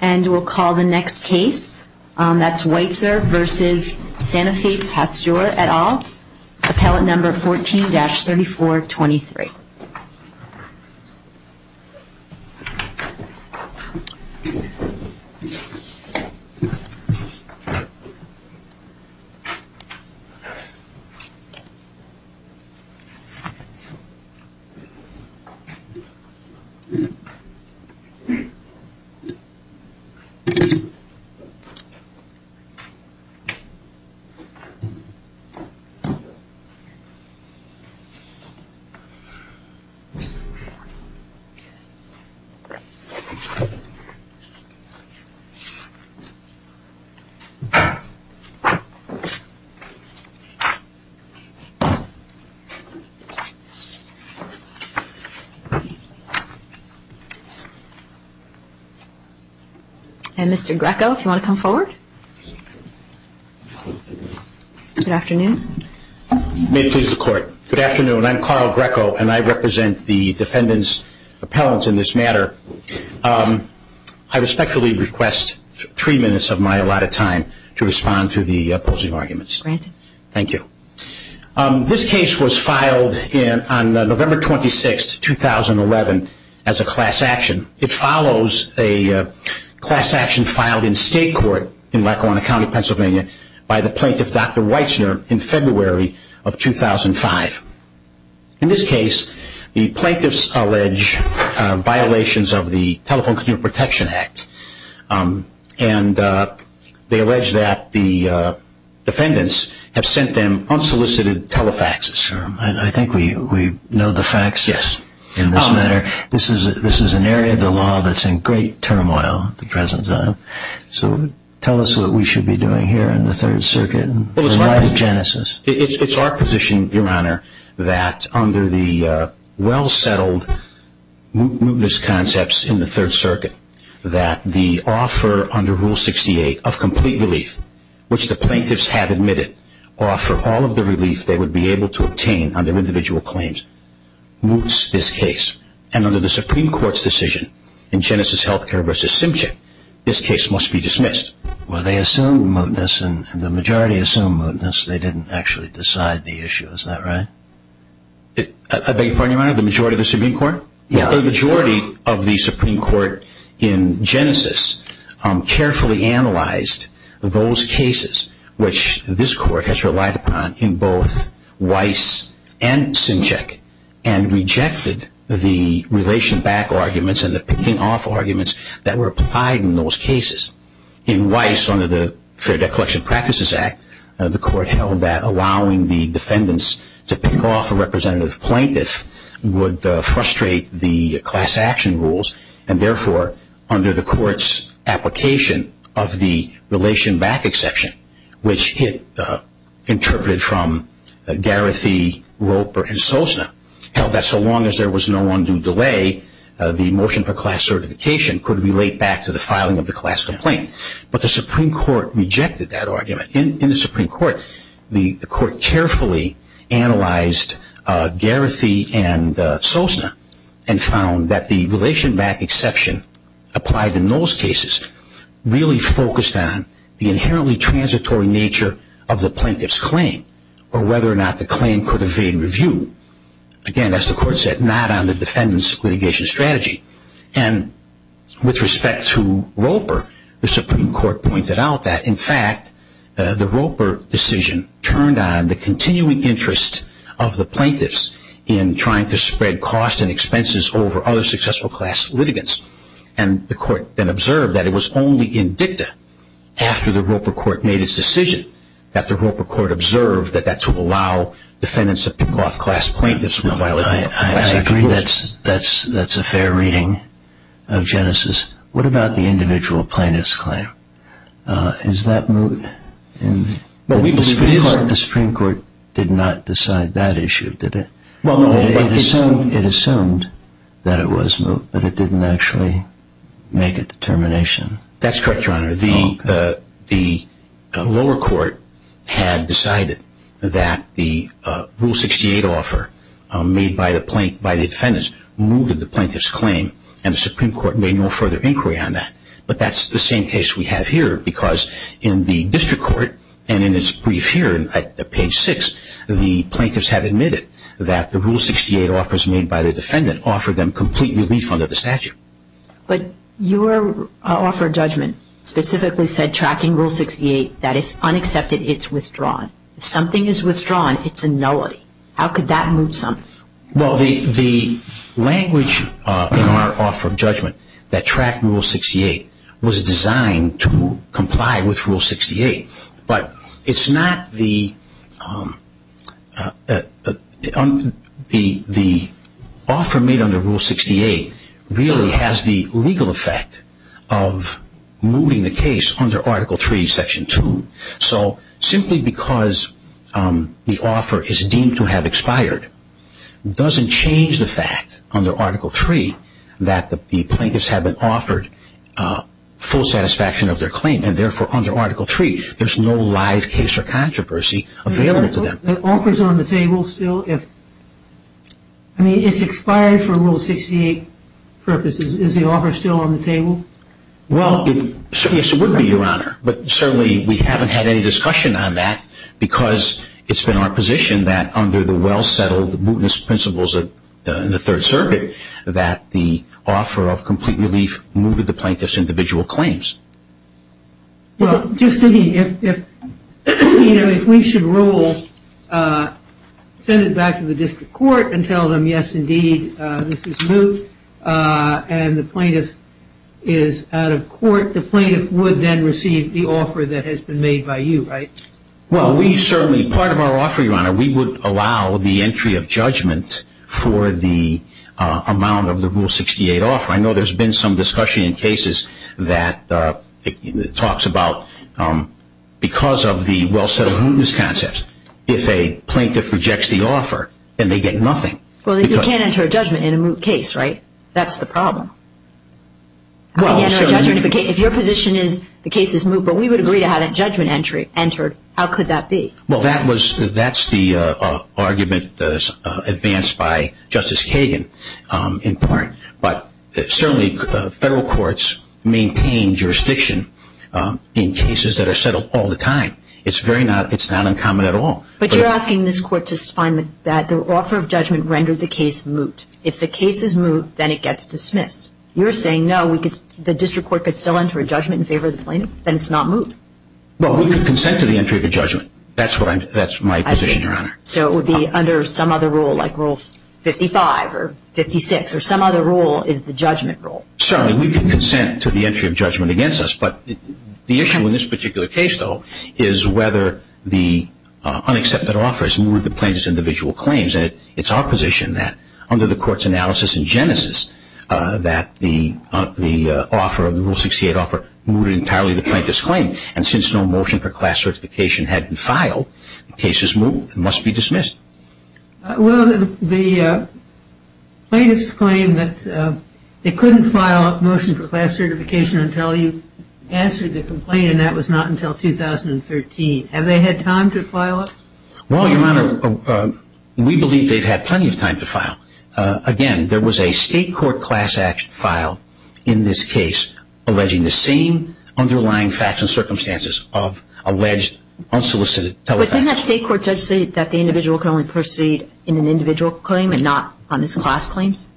And we'll call the next case, that's WeitznerVSSanofiPasteur, etal, appellate number 14-3423. And we'll call the next case, that's WeitznerVSSanofiPasteur, etal, appellate number 14-3423. And Mr. Greco, if you want to come forward. Good afternoon. May it please the court. Good afternoon, I'm Carl Greco and I represent the defendant's appellants in this matter. I respectfully request three minutes of my allotted time to respond to the opposing arguments. Granted. Thank you. This case was filed on November 26, 2011, as a class action. It follows a class action filed in state court in Lackawanna County, Pennsylvania, by the plaintiff, Dr. Weitzner, in February of 2005. In this case, the plaintiffs allege violations of the Telephone Computer Protection Act. And they allege that the defendants have sent them unsolicited tele-faxes. I think we know the facts. Yes. In this matter, this is an area of the law that's in great turmoil at the present time. So tell us what we should be doing here in the Third Circuit in light of Genesis. It's our position, Your Honor, that under the well-settled mootness concepts in the Third Circuit, that the offer under Rule 68 of complete relief, which the plaintiffs have admitted, offer all of the relief they would be able to obtain under individual claims, moots this case. And under the Supreme Court's decision in Genesis Healthcare v. Simchick, this case must be dismissed. Well, they assumed mootness, and the majority assumed mootness. They didn't actually decide the issue. Is that right? I beg your pardon, Your Honor? The majority of the Supreme Court? Yeah. So the majority of the Supreme Court in Genesis carefully analyzed those cases, which this Court has relied upon in both Weiss and Simchick, and rejected the relation back arguments and the picking off arguments that were applied in those cases. In Weiss, under the Fair Debt Collection Practices Act, the Court held that allowing the defendants to pick off a representative plaintiff would frustrate the class action rules, and therefore, under the Court's application of the relation back exception, which it interpreted from Garethi, Roper, and Sosna, held that so long as there was no undue delay, the motion for class certification could relate back to the filing of the class complaint. But the Supreme Court rejected that argument. In the Supreme Court, the Court carefully analyzed Garethi and Sosna, and found that the relation back exception applied in those cases really focused on the inherently transitory nature of the plaintiff's claim, or whether or not the claim could evade review. Again, as the Court said, not on the defendant's litigation strategy. And with respect to Roper, the Supreme Court pointed out that, in fact, the Roper decision turned on the continuing interest of the plaintiffs in trying to spread costs and expenses over other successful class litigants. And the Court then observed that it was only in dicta, after the Roper Court made its decision, that the Roper Court observed that that to allow defendants to pick off class plaintiffs would violate the class action rules. I agree that that's a fair reading of Genesis. What about the individual plaintiff's claim? Is that moot? The Supreme Court did not decide that issue, did it? It assumed that it was moot, but it didn't actually make a determination. That's correct, Your Honor. The lower court had decided that the Rule 68 offer made by the defendants mooted the plaintiff's claim, and the Supreme Court made no further inquiry on that. But that's the same case we have here, because in the district court, and in its brief here at page 6, the plaintiffs have admitted that the Rule 68 offers made by the defendant offered them complete relief under the statute. But your offer of judgment specifically said, tracking Rule 68, that if unaccepted, it's withdrawn. If something is withdrawn, it's a nullity. How could that moot something? Well, the language in our offer of judgment that tracked Rule 68 was designed to comply with Rule 68. But it's not the offer made under Rule 68 really has the legal effect of mooting the case under Article 3, Section 2. So simply because the offer is deemed to have expired doesn't change the fact under Article 3 that the plaintiffs have been offered full satisfaction of their claim. And therefore, under Article 3, there's no live case or controversy available to them. Is the offer still on the table? I mean, it's expired for Rule 68 purposes. Is the offer still on the table? Well, yes, it would be, Your Honor. But certainly we haven't had any discussion on that because it's been our position that under the well-settled mootness principles of the Third Circuit that the offer of complete relief mooted the plaintiff's individual claims. Well, just thinking, if we should rule, send it back to the district court and tell them, yes, indeed, this is moot, and the plaintiff is out of court, the plaintiff would then receive the offer that has been made by you, right? Well, we certainly, part of our offer, Your Honor, we would allow the entry of judgment for the amount of the Rule 68 offer. I know there's been some discussion in cases that talks about because of the well-settled mootness concepts, if a plaintiff rejects the offer, then they get nothing. Well, you can't enter a judgment in a moot case, right? That's the problem. You can't enter a judgment if your position is the case is moot, but we would agree to have that judgment entry entered. How could that be? Well, that's the argument advanced by Justice Kagan, in part. But certainly federal courts maintain jurisdiction in cases that are settled all the time. It's not uncommon at all. But you're asking this Court to find that the offer of judgment rendered the case moot. If the case is moot, then it gets dismissed. You're saying, no, the district court could still enter a judgment in favor of the plaintiff, then it's not moot. Well, we could consent to the entry of a judgment. That's my position, Your Honor. So it would be under some other rule, like Rule 55 or 56, or some other rule is the judgment rule. Certainly, we could consent to the entry of judgment against us, But the issue in this particular case, though, is whether the unaccepted offer has mooted the plaintiff's individual claims. And it's our position that under the Court's analysis in Genesis that the offer, the Rule 68 offer, mooted entirely the plaintiff's claim. And since no motion for class certification had been filed, the case is moot and must be dismissed. Well, the plaintiff's claim that they couldn't file a motion for class certification until you answered the complaint, and that was not until 2013. Have they had time to file it? Well, Your Honor, we believe they've had plenty of time to file. Again, there was a State Court Class Act file in this case alleging the same underlying facts and circumstances of alleged unsolicited telephony. Didn't that State Court judge say that the individual can only proceed in an individual claim and not on his class claims?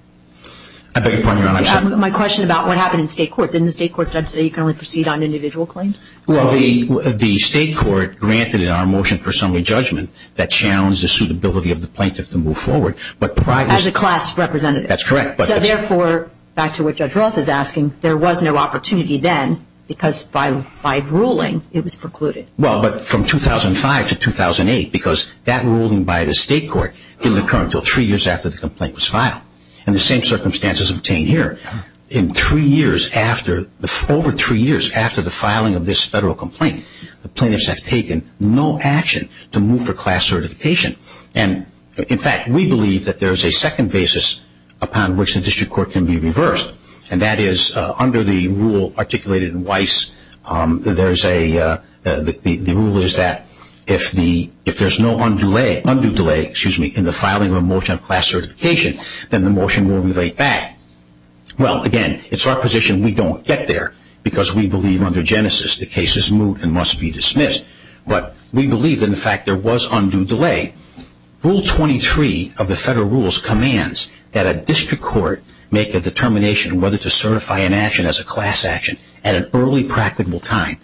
I beg your pardon, Your Honor. My question about what happened in State Court. Didn't the State Court judge say you can only proceed on individual claims? Well, the State Court granted in our motion for assembly judgment that challenged the suitability of the plaintiff to move forward. As a class representative. That's correct. So therefore, back to what Judge Roth is asking, there was no opportunity then because by ruling, it was precluded. Well, but from 2005 to 2008, because that ruling by the State Court didn't occur until three years after the complaint was filed. And the same circumstances obtained here. In three years after, over three years after the filing of this Federal complaint, the plaintiffs have taken no action to move for class certification. And, in fact, we believe that there is a second basis upon which the district court can be reversed, and that is under the rule articulated in Weiss, there's a, the rule is that if the, if there's no undue delay, undue delay, excuse me, in the filing of a motion of class certification, then the motion will relate back. Well, again, it's our position we don't get there because we believe under Genesis the case is moot and must be dismissed. But we believe in the fact there was undue delay. Rule 23 of the Federal rules commands that a district court make a determination whether to certify an action as a class action at an early practicable time.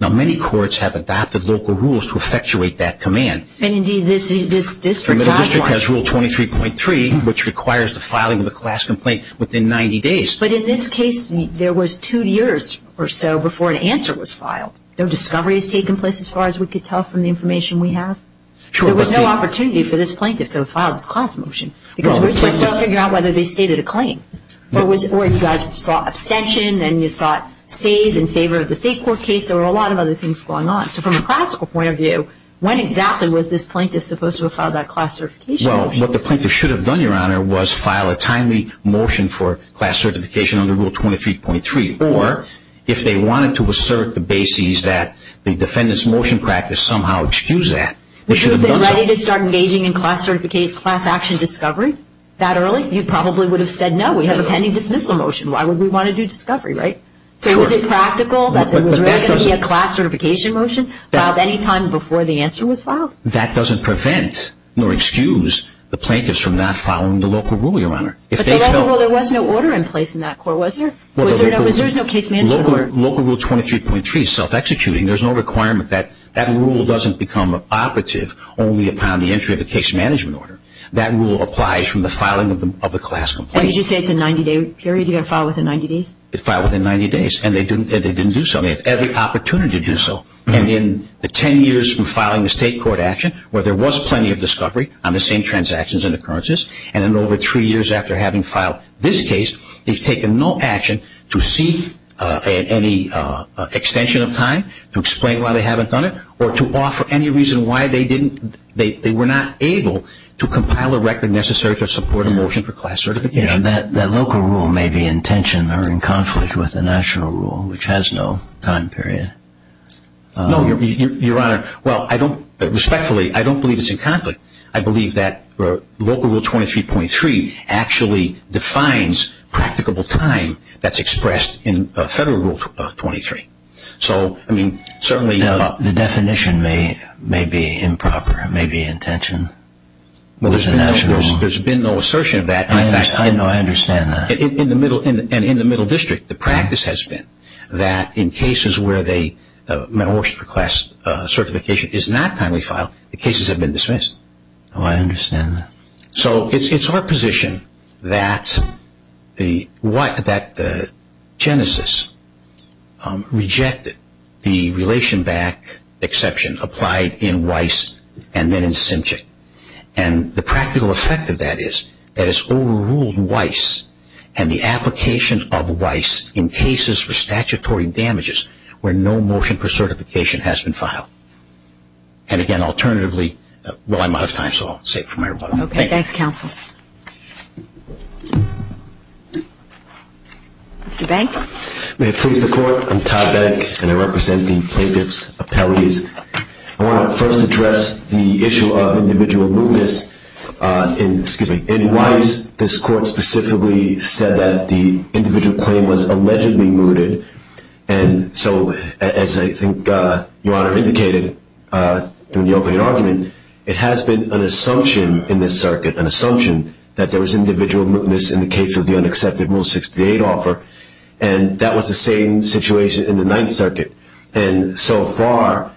Now, many courts have adopted local rules to effectuate that command. And, indeed, this district has one. The district has rule 23.3, which requires the filing of a class complaint within 90 days. But in this case, there was two years or so before an answer was filed. No discovery has taken place as far as we could tell from the information we have. There was no opportunity for this plaintiff to have filed this class motion because we're still trying to figure out whether they stated a claim. Or if you guys saw abstention and you saw stays in favor of the state court case, there were a lot of other things going on. So from a practical point of view, when exactly was this plaintiff supposed to have filed that class certification? Well, what the plaintiff should have done, Your Honor, was file a timely motion for class certification under Rule 23.3. Or if they wanted to assert the bases that the defendant's motion practice somehow excused that, they should have done so. Would you have been ready to start engaging in class action discovery that early? You probably would have said no. We have a pending dismissal motion. Why would we want to do discovery, right? Sure. So was it practical that there was already going to be a class certification motion filed any time before the answer was filed? That doesn't prevent nor excuse the plaintiffs from not filing the local rule, Your Honor. But the local rule, there was no order in place in that court, was there? There was no case management order. Local Rule 23.3 is self-executing. There's no requirement. That rule doesn't become operative only upon the entry of a case management order. That rule applies from the filing of the class complaint. And did you say it's a 90-day period? You got to file within 90 days? It's filed within 90 days. And they didn't do so. They have every opportunity to do so. And in the 10 years from filing the state court action, where there was plenty of discovery on the same transactions and occurrences, and then over three years after having filed this case, they've taken no action to seek any extension of time, to explain why they haven't done it, or to offer any reason why they didn't, they were not able to compile a record necessary to support a motion for class certification. That local rule may be in tension or in conflict with the national rule, which has no time period. No, Your Honor. Well, I don't, respectfully, I don't believe it's in conflict. I believe that local rule 23.3 actually defines practicable time that's expressed in federal rule 23. So, I mean, certainly the definition may be improper. It may be in tension with the national rule. There's been no assertion of that. I know. I understand that. And in the middle district, the practice has been that in cases where they, a motion for class certification is not timely filed, the cases have been dismissed. Oh, I understand that. So, it's our position that the Genesis rejected the relation back exception applied in Weiss and then in Simchick. And the practical effect of that is that it's overruled Weiss and the application of Weiss in cases for statutory damages where no motion for certification has been filed. And, again, alternatively, well, I'm out of time, so I'll save it for my rebuttal. Okay. Thanks, counsel. Mr. Bank. May it please the Court. I'm Todd Bank, and I represent the plaintiff's appellees. I want to first address the issue of individual mootness. In Weiss, this Court specifically said that the individual claim was allegedly mooted, and so as I think Your Honor indicated in the opening argument, it has been an assumption in this circuit, an assumption that there was individual mootness in the case of the unaccepted Rule 68 offer, and that was the same situation in the Ninth Circuit. And so far,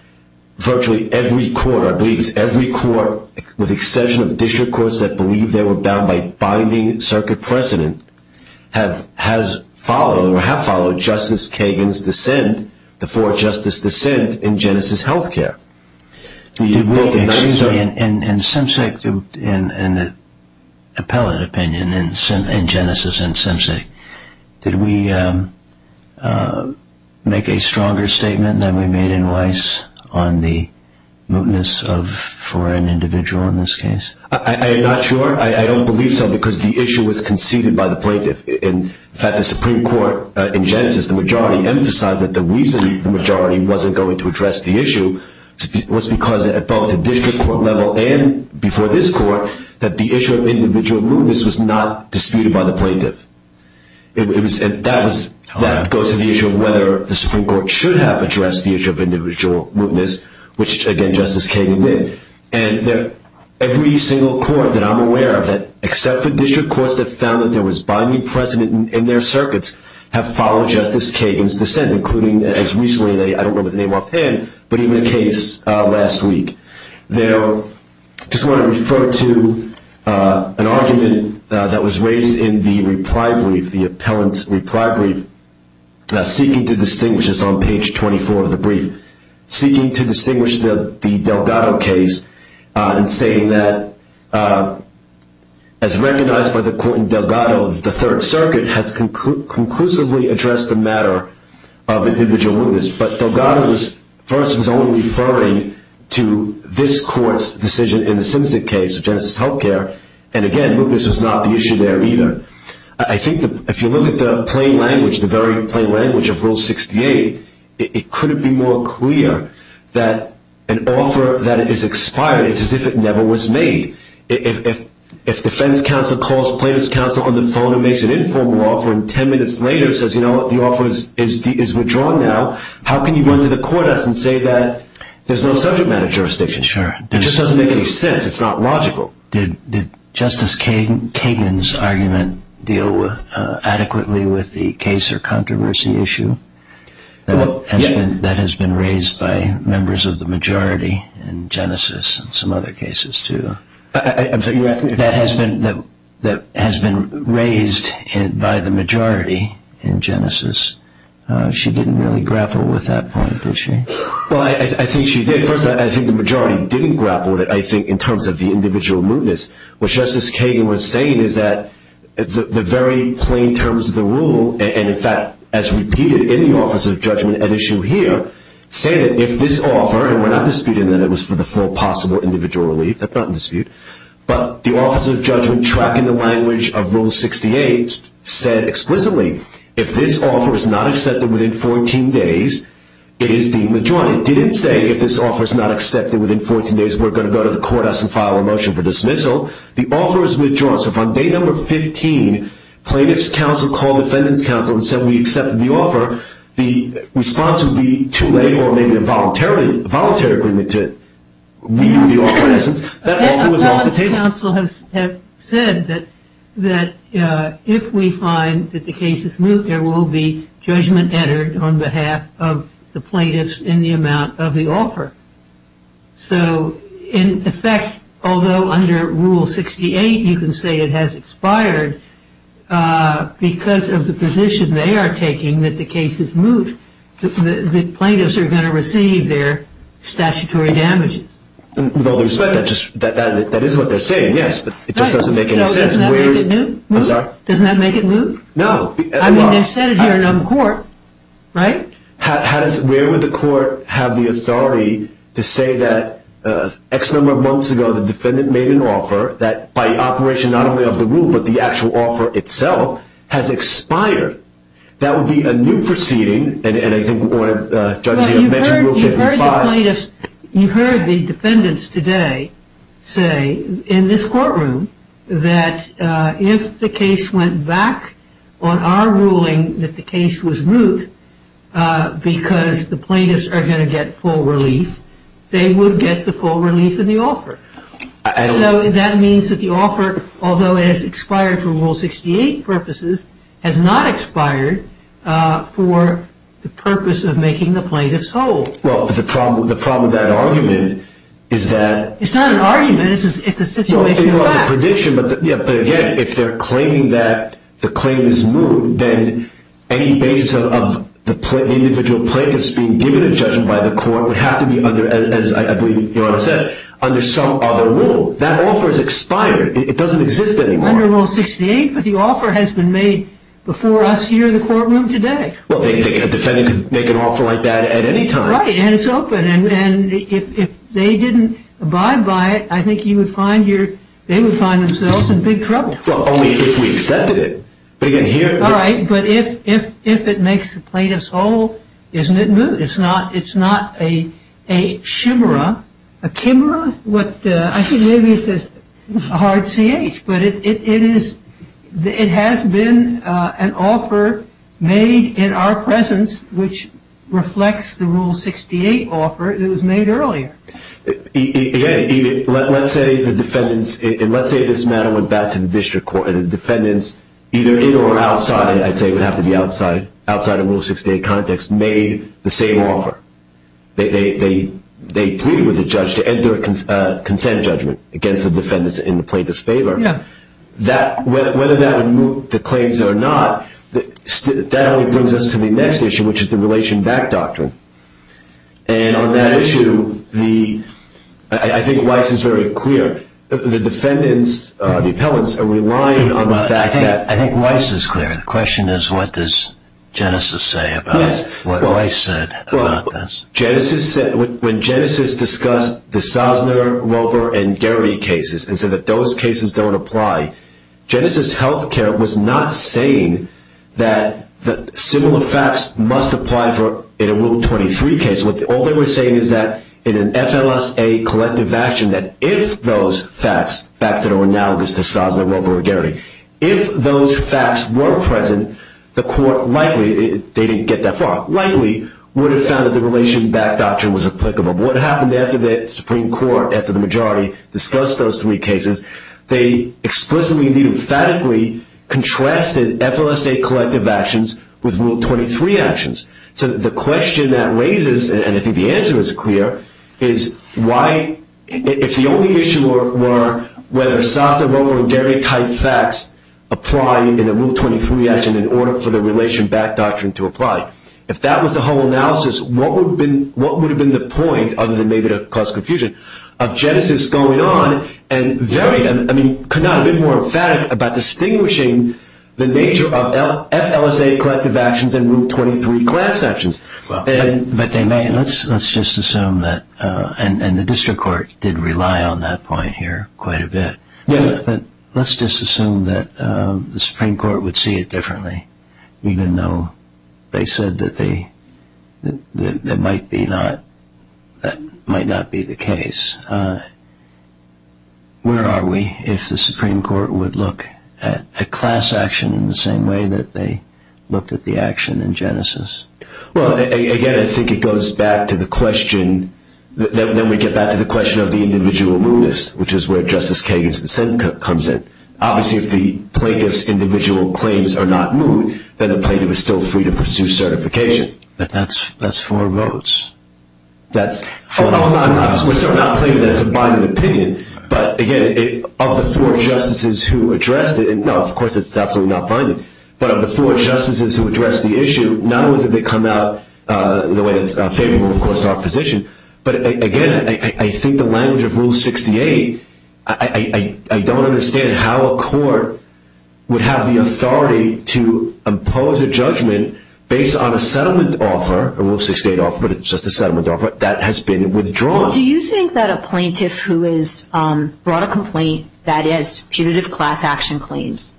virtually every court, I believe it's every court, with the exception of district courts that believe they were bound by binding circuit precedent, have followed Justice Kagan's dissent before Justice's dissent in Genesis Health Care. Did we actually, in Simsek, in the appellate opinion in Genesis and Simsek, did we make a stronger statement than we made in Weiss on the mootness for an individual in this case? I am not sure. I don't believe so because the issue was conceded by the plaintiff. In fact, the Supreme Court in Genesis, the majority emphasized that the reason the majority wasn't going to address the issue was because at both the district court level and before this Court, that the issue of individual mootness was not disputed by the plaintiff. That goes to the issue of whether the Supreme Court should have addressed the issue of individual mootness, which again, Justice Kagan did. And every single court that I'm aware of, except for district courts that found that there was binding precedent in their circuits, have followed Justice Kagan's dissent, including as recently, I don't know the name offhand, but even a case last week. I just want to refer to an argument that was raised in the reply brief, the appellant's reply brief, seeking to distinguish, it's on page 24 of the brief, seeking to distinguish the Delgado case and saying that, as recognized by the court in Delgado, the Third Circuit has conclusively addressed the matter of individual mootness, but Delgado first was only referring to this Court's decision in the Simpson case, Genesis Healthcare, and again, mootness was not the issue there either. I think if you look at the plain language, the very plain language of Rule 68, it couldn't be more clear that an offer that is expired is as if it never was made. If defense counsel calls plaintiff's counsel on the phone and makes an informal offer, and 10 minutes later says, you know what, the offer is withdrawn now, how can you run to the court and say that there's no subject matter jurisdiction? Sure. It just doesn't make any sense. It's not logical. Did Justice Kagan's argument deal adequately with the case or controversy issue that has been raised by members of the majority in Genesis and some other cases too, that has been raised by the majority in Genesis? She didn't really grapple with that point, did she? Well, I think she did. She did grapple with it, I think, in terms of the individual mootness. What Justice Kagan was saying is that the very plain terms of the rule, and in fact as repeated in the Office of Judgment at issue here, say that if this offer, and we're not disputing that it was for the full possible individual relief, that's not in dispute, but the Office of Judgment tracking the language of Rule 68 said explicitly, if this offer is not accepted within 14 days, it is deemed withdrawn. Well, it didn't say if this offer is not accepted within 14 days, we're going to go to the court, ask them to file a motion for dismissal. The offer is withdrawn. So if on date number 15 plaintiff's counsel called defendant's counsel and said we accepted the offer, the response would be too late or maybe a voluntary agreement to renew the offer in essence. That offer was off the table. The plaintiff's counsel has said that if we find that the case is moot, there will be judgment entered on behalf of the plaintiffs in the amount of the offer. So in effect, although under Rule 68 you can say it has expired, because of the position they are taking that the case is moot, the plaintiffs are going to receive their statutory damages. With all due respect, that is what they're saying, yes, but it just doesn't make any sense. Does that make it moot? No. I mean, they've said it here and on the court, right? Where would the court have the authority to say that X number of months ago the defendant made an offer that by operation not only of the rule but the actual offer itself has expired? That would be a new proceeding, and I think Judge Zia mentioned Rule 65. You heard the plaintiffs, you heard the defendants today say in this courtroom that if the case went back on our ruling that the case was moot because the plaintiffs are going to get full relief, they would get the full relief in the offer. So that means that the offer, although it has expired for Rule 68 purposes, has not expired for the purpose of making the plaintiffs whole. Well, the problem with that argument is that It's not an argument. It's a situation of fact. It's a prediction, but again, if they're claiming that the claim is moot, then any basis of the individual plaintiffs being given a judgment by the court would have to be under, as I believe Your Honor said, under some other rule. That offer has expired. It doesn't exist anymore. Under Rule 68, but the offer has been made before us here in the courtroom today. Well, a defendant could make an offer like that at any time. Right, and it's open, and if they didn't abide by it, I think they would find themselves in big trouble. Well, only if we accepted it. All right, but if it makes the plaintiffs whole, isn't it moot? It's not a chimera. I think maybe it's a hard C-H, but it has been an offer made in our presence, which reflects the Rule 68 offer that was made earlier. Again, let's say the defendants, and let's say this matter went back to the district court and the defendants, either in or outside, I'd say it would have to be outside, outside of Rule 68 context, made the same offer. They pleaded with the judge to enter a consent judgment against the defendants in the plaintiff's favor. Whether that would moot the claims or not, that only brings us to the next issue, which is the relation back doctrine. And on that issue, I think Weiss is very clear. The defendants, the appellants, are relying on that. I think Weiss is clear. The question is what does Genesis say about what Weiss said about this? When Genesis discussed the Sosner, Roper, and Gehry cases and said that those cases don't apply, Genesis Healthcare was not saying that similar facts must apply in a Rule 23 case. All they were saying is that in an FLSA collective action, that if those facts, facts that are analogous to Sosner, Roper, or Gehry, if those facts were present, the court likely, they didn't get that far, likely would have found that the relation back doctrine was applicable. What happened after the Supreme Court, after the majority discussed those three cases, they explicitly and emphatically contrasted FLSA collective actions with Rule 23 actions. So the question that raises, and I think the answer is clear, is why, if the only issue were whether Sosner, Roper, or Gehry-type facts apply in a Rule 23 action in order for the relation back doctrine to apply, if that was the whole analysis, what would have been the point, other than maybe to cause confusion, of Genesis going on and very, I mean, could not have been more emphatic about distinguishing the nature of FLSA collective actions and Rule 23 class actions. But they may, let's just assume that, and the district court did rely on that point here quite a bit, but let's just assume that the Supreme Court would see it differently, even though they said that that might not be the case. Where are we if the Supreme Court would look at a class action in the same way that they looked at the action in Genesis? Well, again, I think it goes back to the question, then we get back to the question of the individual mootness, which is where Justice Kagan's dissent comes in. Obviously, if the plaintiff's individual claims are not moot, then the plaintiff is still free to pursue certification. But that's four votes. We're certainly not claiming that it's a binding opinion. But, again, of the four justices who addressed it, and, no, of course, it's absolutely not binding, but of the four justices who addressed the issue, not only did they come out the way that's favorable, of course, to our position, but, again, I think the language of Rule 68, I don't understand how a court would have the authority to impose a judgment based on a settlement offer, a Rule 68 offer, but it's just a settlement offer, that has been withdrawn. Well, do you think that a plaintiff who has brought a complaint, that is, putative class action claims,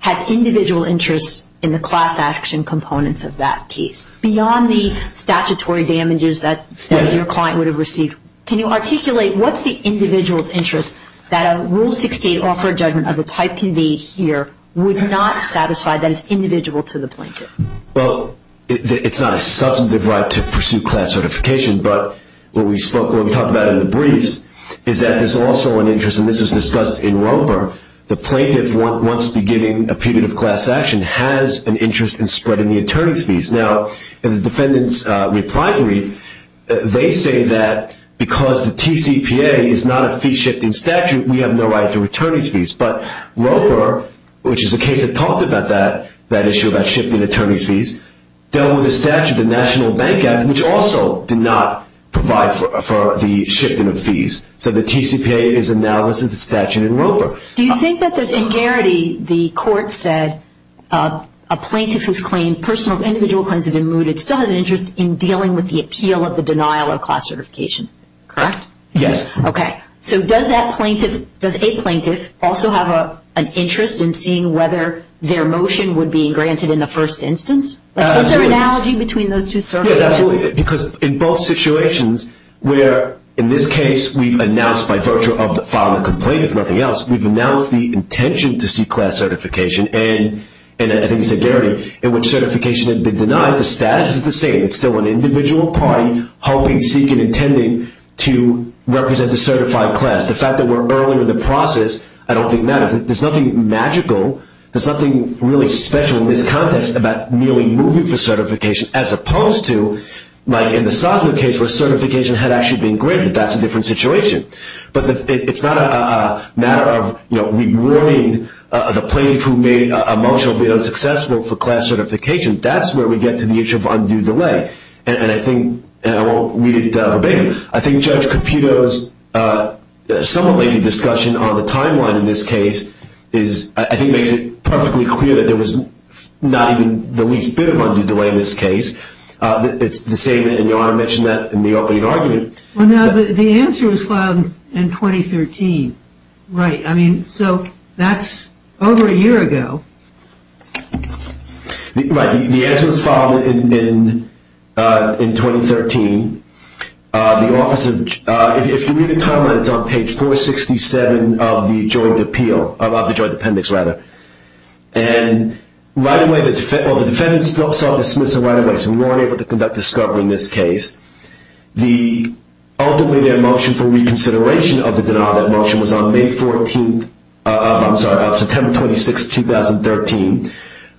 has individual interests in the class action components of that case, beyond the statutory damages that your client would have received? Can you articulate what's the individual's interest that a Rule 68 offer judgment of the type can be here would not satisfy that is individual to the plaintiff? Well, it's not a substantive right to pursue class certification, but what we talked about in the briefs is that there's also an interest, and this was discussed in Roper, the plaintiff, once beginning a putative class action, has an interest in spreading the attorney's fees. Now, in the defendant's reply brief, they say that because the TCPA is not a fee-shifting statute, we have no right to attorney's fees. But Roper, which is a case that talked about that, that issue about shifting attorney's fees, dealt with a statute, the National Bank Act, which also did not provide for the shifting of fees. So the TCPA is analogous to the statute in Roper. Do you think that there's, in Garrity, the court said a plaintiff whose personal individual claims have been mooted still has an interest in dealing with the appeal of the denial of class certification, correct? Yes. Okay. So does that plaintiff, does a plaintiff, also have an interest in seeing whether their motion would be granted in the first instance? Absolutely. Is there an analogy between those two circumstances? Yes, absolutely, because in both situations, where in this case we've announced by virtue of the filing of the complaint, if nothing else, we've announced the intention to seek class certification, and I think you said, Garrity, in which certification had been denied, the status is the same. It's still an individual party hoping, seeking, intending to represent the certified class. The fact that we're early in the process, I don't think matters. There's nothing magical. There's nothing really special in this context about merely moving for certification, as opposed to, like in the Sosno case, where certification had actually been granted. That's a different situation. But it's not a matter of, you know, rewarding the plaintiff who made a motion being unsuccessful for class certification. That's where we get to the issue of undue delay. And I think, and I won't read it verbatim, I think Judge Caputo's somewhat lengthy discussion on the timeline in this case is, I think makes it perfectly clear that there was not even the least bit of undue delay in this case. It's the same, and Your Honor mentioned that in the opening argument. Well, no, the answer was filed in 2013. Right. I mean, so that's over a year ago. Right. The answer was filed in 2013. The Office of, if you read the timeline, it's on page 467 of the joint appeal, of the joint appendix, rather. And right away, well, the defendant still sought dismissal right away, so we weren't able to conduct discovery in this case. Ultimately, their motion for reconsideration of the denial of that motion was on May 14th, I'm sorry, September 26th, 2013.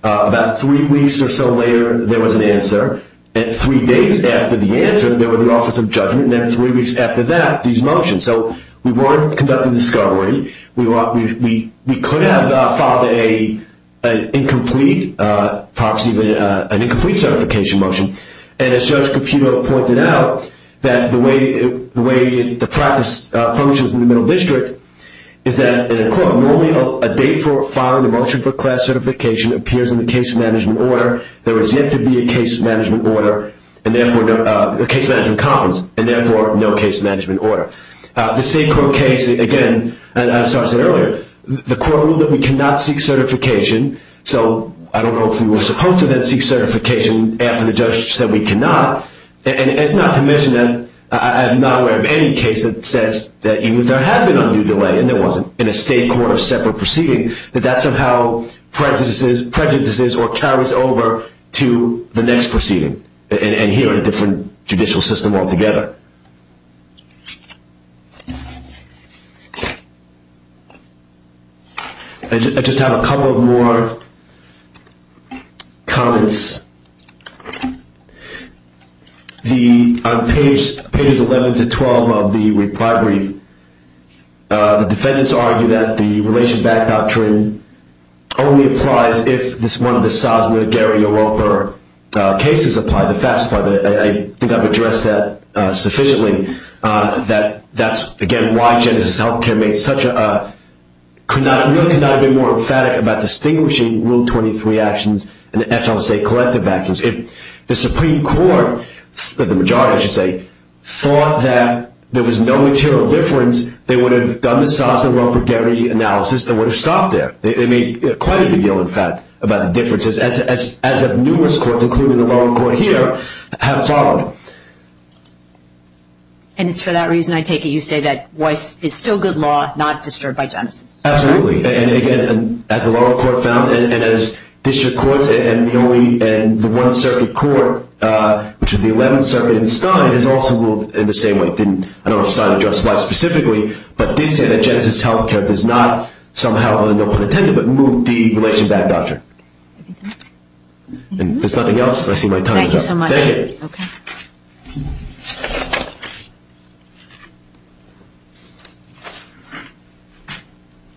About three weeks or so later, there was an answer. And three days after the answer, there was an Office of Judgment, and then three weeks after that, these motions. So we weren't conducting discovery. We could have filed an incomplete certification motion, and as Judge Caputo pointed out, that the way the practice functions in the Middle District is that, in a court, normally a date for filing a motion for class certification appears in the case management order. There was yet to be a case management order, a case management conference, and therefore no case management order. The state court case, again, as I said earlier, the court ruled that we cannot seek certification. So I don't know if we were supposed to then seek certification after the judge said we cannot. And not to mention that I'm not aware of any case that says that even if there had been undue delay and there wasn't in a state court of separate proceeding, that that somehow prejudices or carries over to the next proceeding and here in a different judicial system altogether. I just have a couple more comments. On pages 11 to 12 of the reply brief, the defendants argue that the relation-backed doctrine only applies if one of the Sosno-Guerrero-Roper cases apply, the FAFSA part of it. I think I've addressed that sufficiently. That's, again, why Genesys Healthcare could not have been more emphatic about distinguishing Rule 23 actions and the FLSA collective actions. If the Supreme Court, the majority I should say, thought that there was no material difference, they would have done the Sosno-Guerrero-Roper analysis and would have stopped there. They made quite a big deal, in fact, about the differences, as of numerous courts, including the lower court here, have followed. And it's for that reason I take it you say that Weiss is still good law, not disturbed by Genesys. Absolutely. And, again, as the lower court found and as district courts and the one-circuit court, which is the 11th Circuit in Stein, has also ruled in the same way. I don't know if Stein addressed Weiss specifically, but it did say that Genesys Healthcare does not somehow have a no pun intended, but moved the relation-backed doctrine. If there's nothing else, I see my time is up. Thank you so much. Thank you.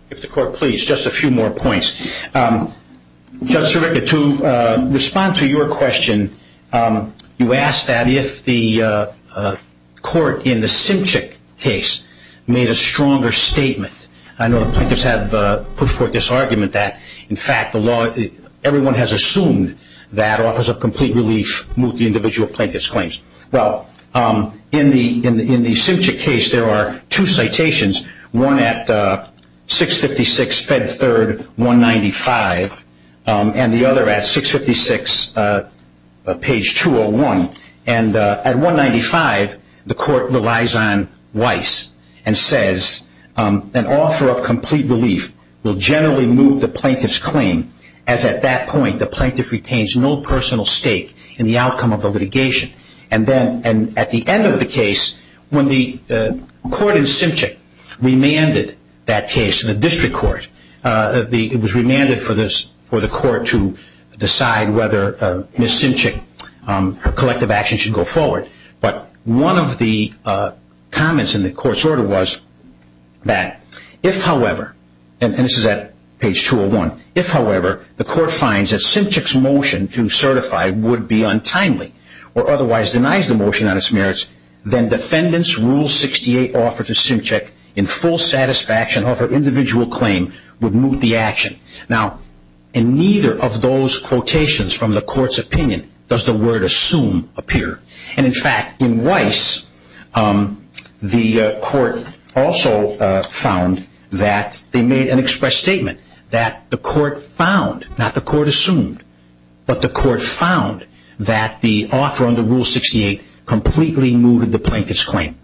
If the court please, just a few more points. Judge Sirica, to respond to your question, you asked that if the court in the Simchik case made a stronger statement. I know the plaintiffs have put forth this argument that, in fact, everyone has assumed that Office of Complete Relief moved the individual plaintiff's claims. Well, in the Simchik case, there are two citations, one at 656 Fed Third 195 and the other at 656 page 201. And at 195, the court relies on Weiss and says, an Office of Complete Relief will generally move the plaintiff's claim as, at that point, the plaintiff retains no personal stake in the outcome of the litigation. And at the end of the case, when the court in Simchik remanded that case to the district court, it was remanded for the court to decide whether Ms. Simchik's collective action should go forward. But one of the comments in the court's order was that, if, however, and this is at page 201, if, however, the court finds that Simchik's motion to certify would be untimely or otherwise denies the motion on its merits, then defendant's Rule 68 offer to Simchik, in full satisfaction of her individual claim, would move the action. Now, in neither of those quotations from the court's opinion does the word assume appear. And, in fact, in Weiss, the court also found that they made an expressed statement that the court found, not the court assumed, but the court found that the offer under Rule 68 completely moved the plaintiff's claim.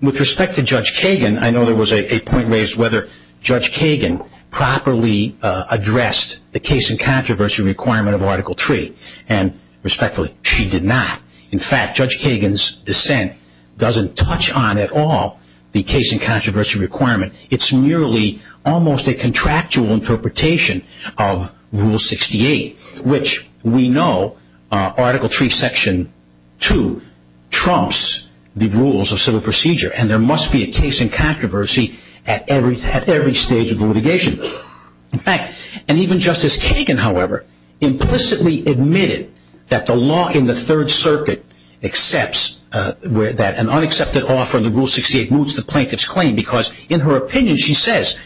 With respect to Judge Kagan, I know there was a point raised whether Judge Kagan properly addressed the case in controversy requirement of Article 3. And, respectfully, she did not. In fact, Judge Kagan's dissent doesn't touch on at all the case in controversy requirement. It's merely almost a contractual interpretation of Rule 68, which we know Article 3, Section 2 trumps the rules of civil procedure. And there must be a case in controversy at every stage of the litigation. In fact, and even Justice Kagan, however, implicitly admitted that the law in the Third Circuit accepts that an unaccepted offer under Rule 68 moves the plaintiff's claim because, in her opinion, she says,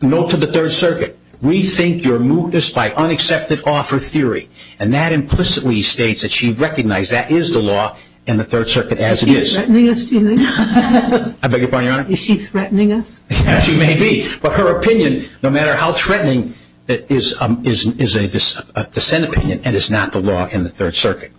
note to the Third Circuit, rethink your mootness by unaccepted offer theory. And that implicitly states that she recognized that is the law in the Third Circuit as it is. Is she threatening us, do you think? I beg your pardon, Your Honor? Is she threatening us? She may be, but her opinion, no matter how threatening, is a dissent opinion and is not the law in the Third Circuit.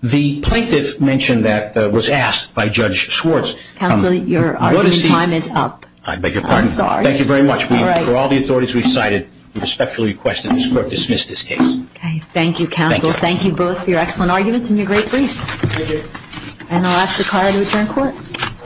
The plaintiff mentioned that was asked by Judge Schwartz. Counsel, your argument time is up. I beg your pardon? I'm sorry. Thank you very much. For all the authorities we've cited, we respectfully request that this Court dismiss this case. Okay. Thank you, Counsel. Thank you. Thank you both for your excellent arguments and your great briefs. Thank you. And I'll ask the Court to return to Court.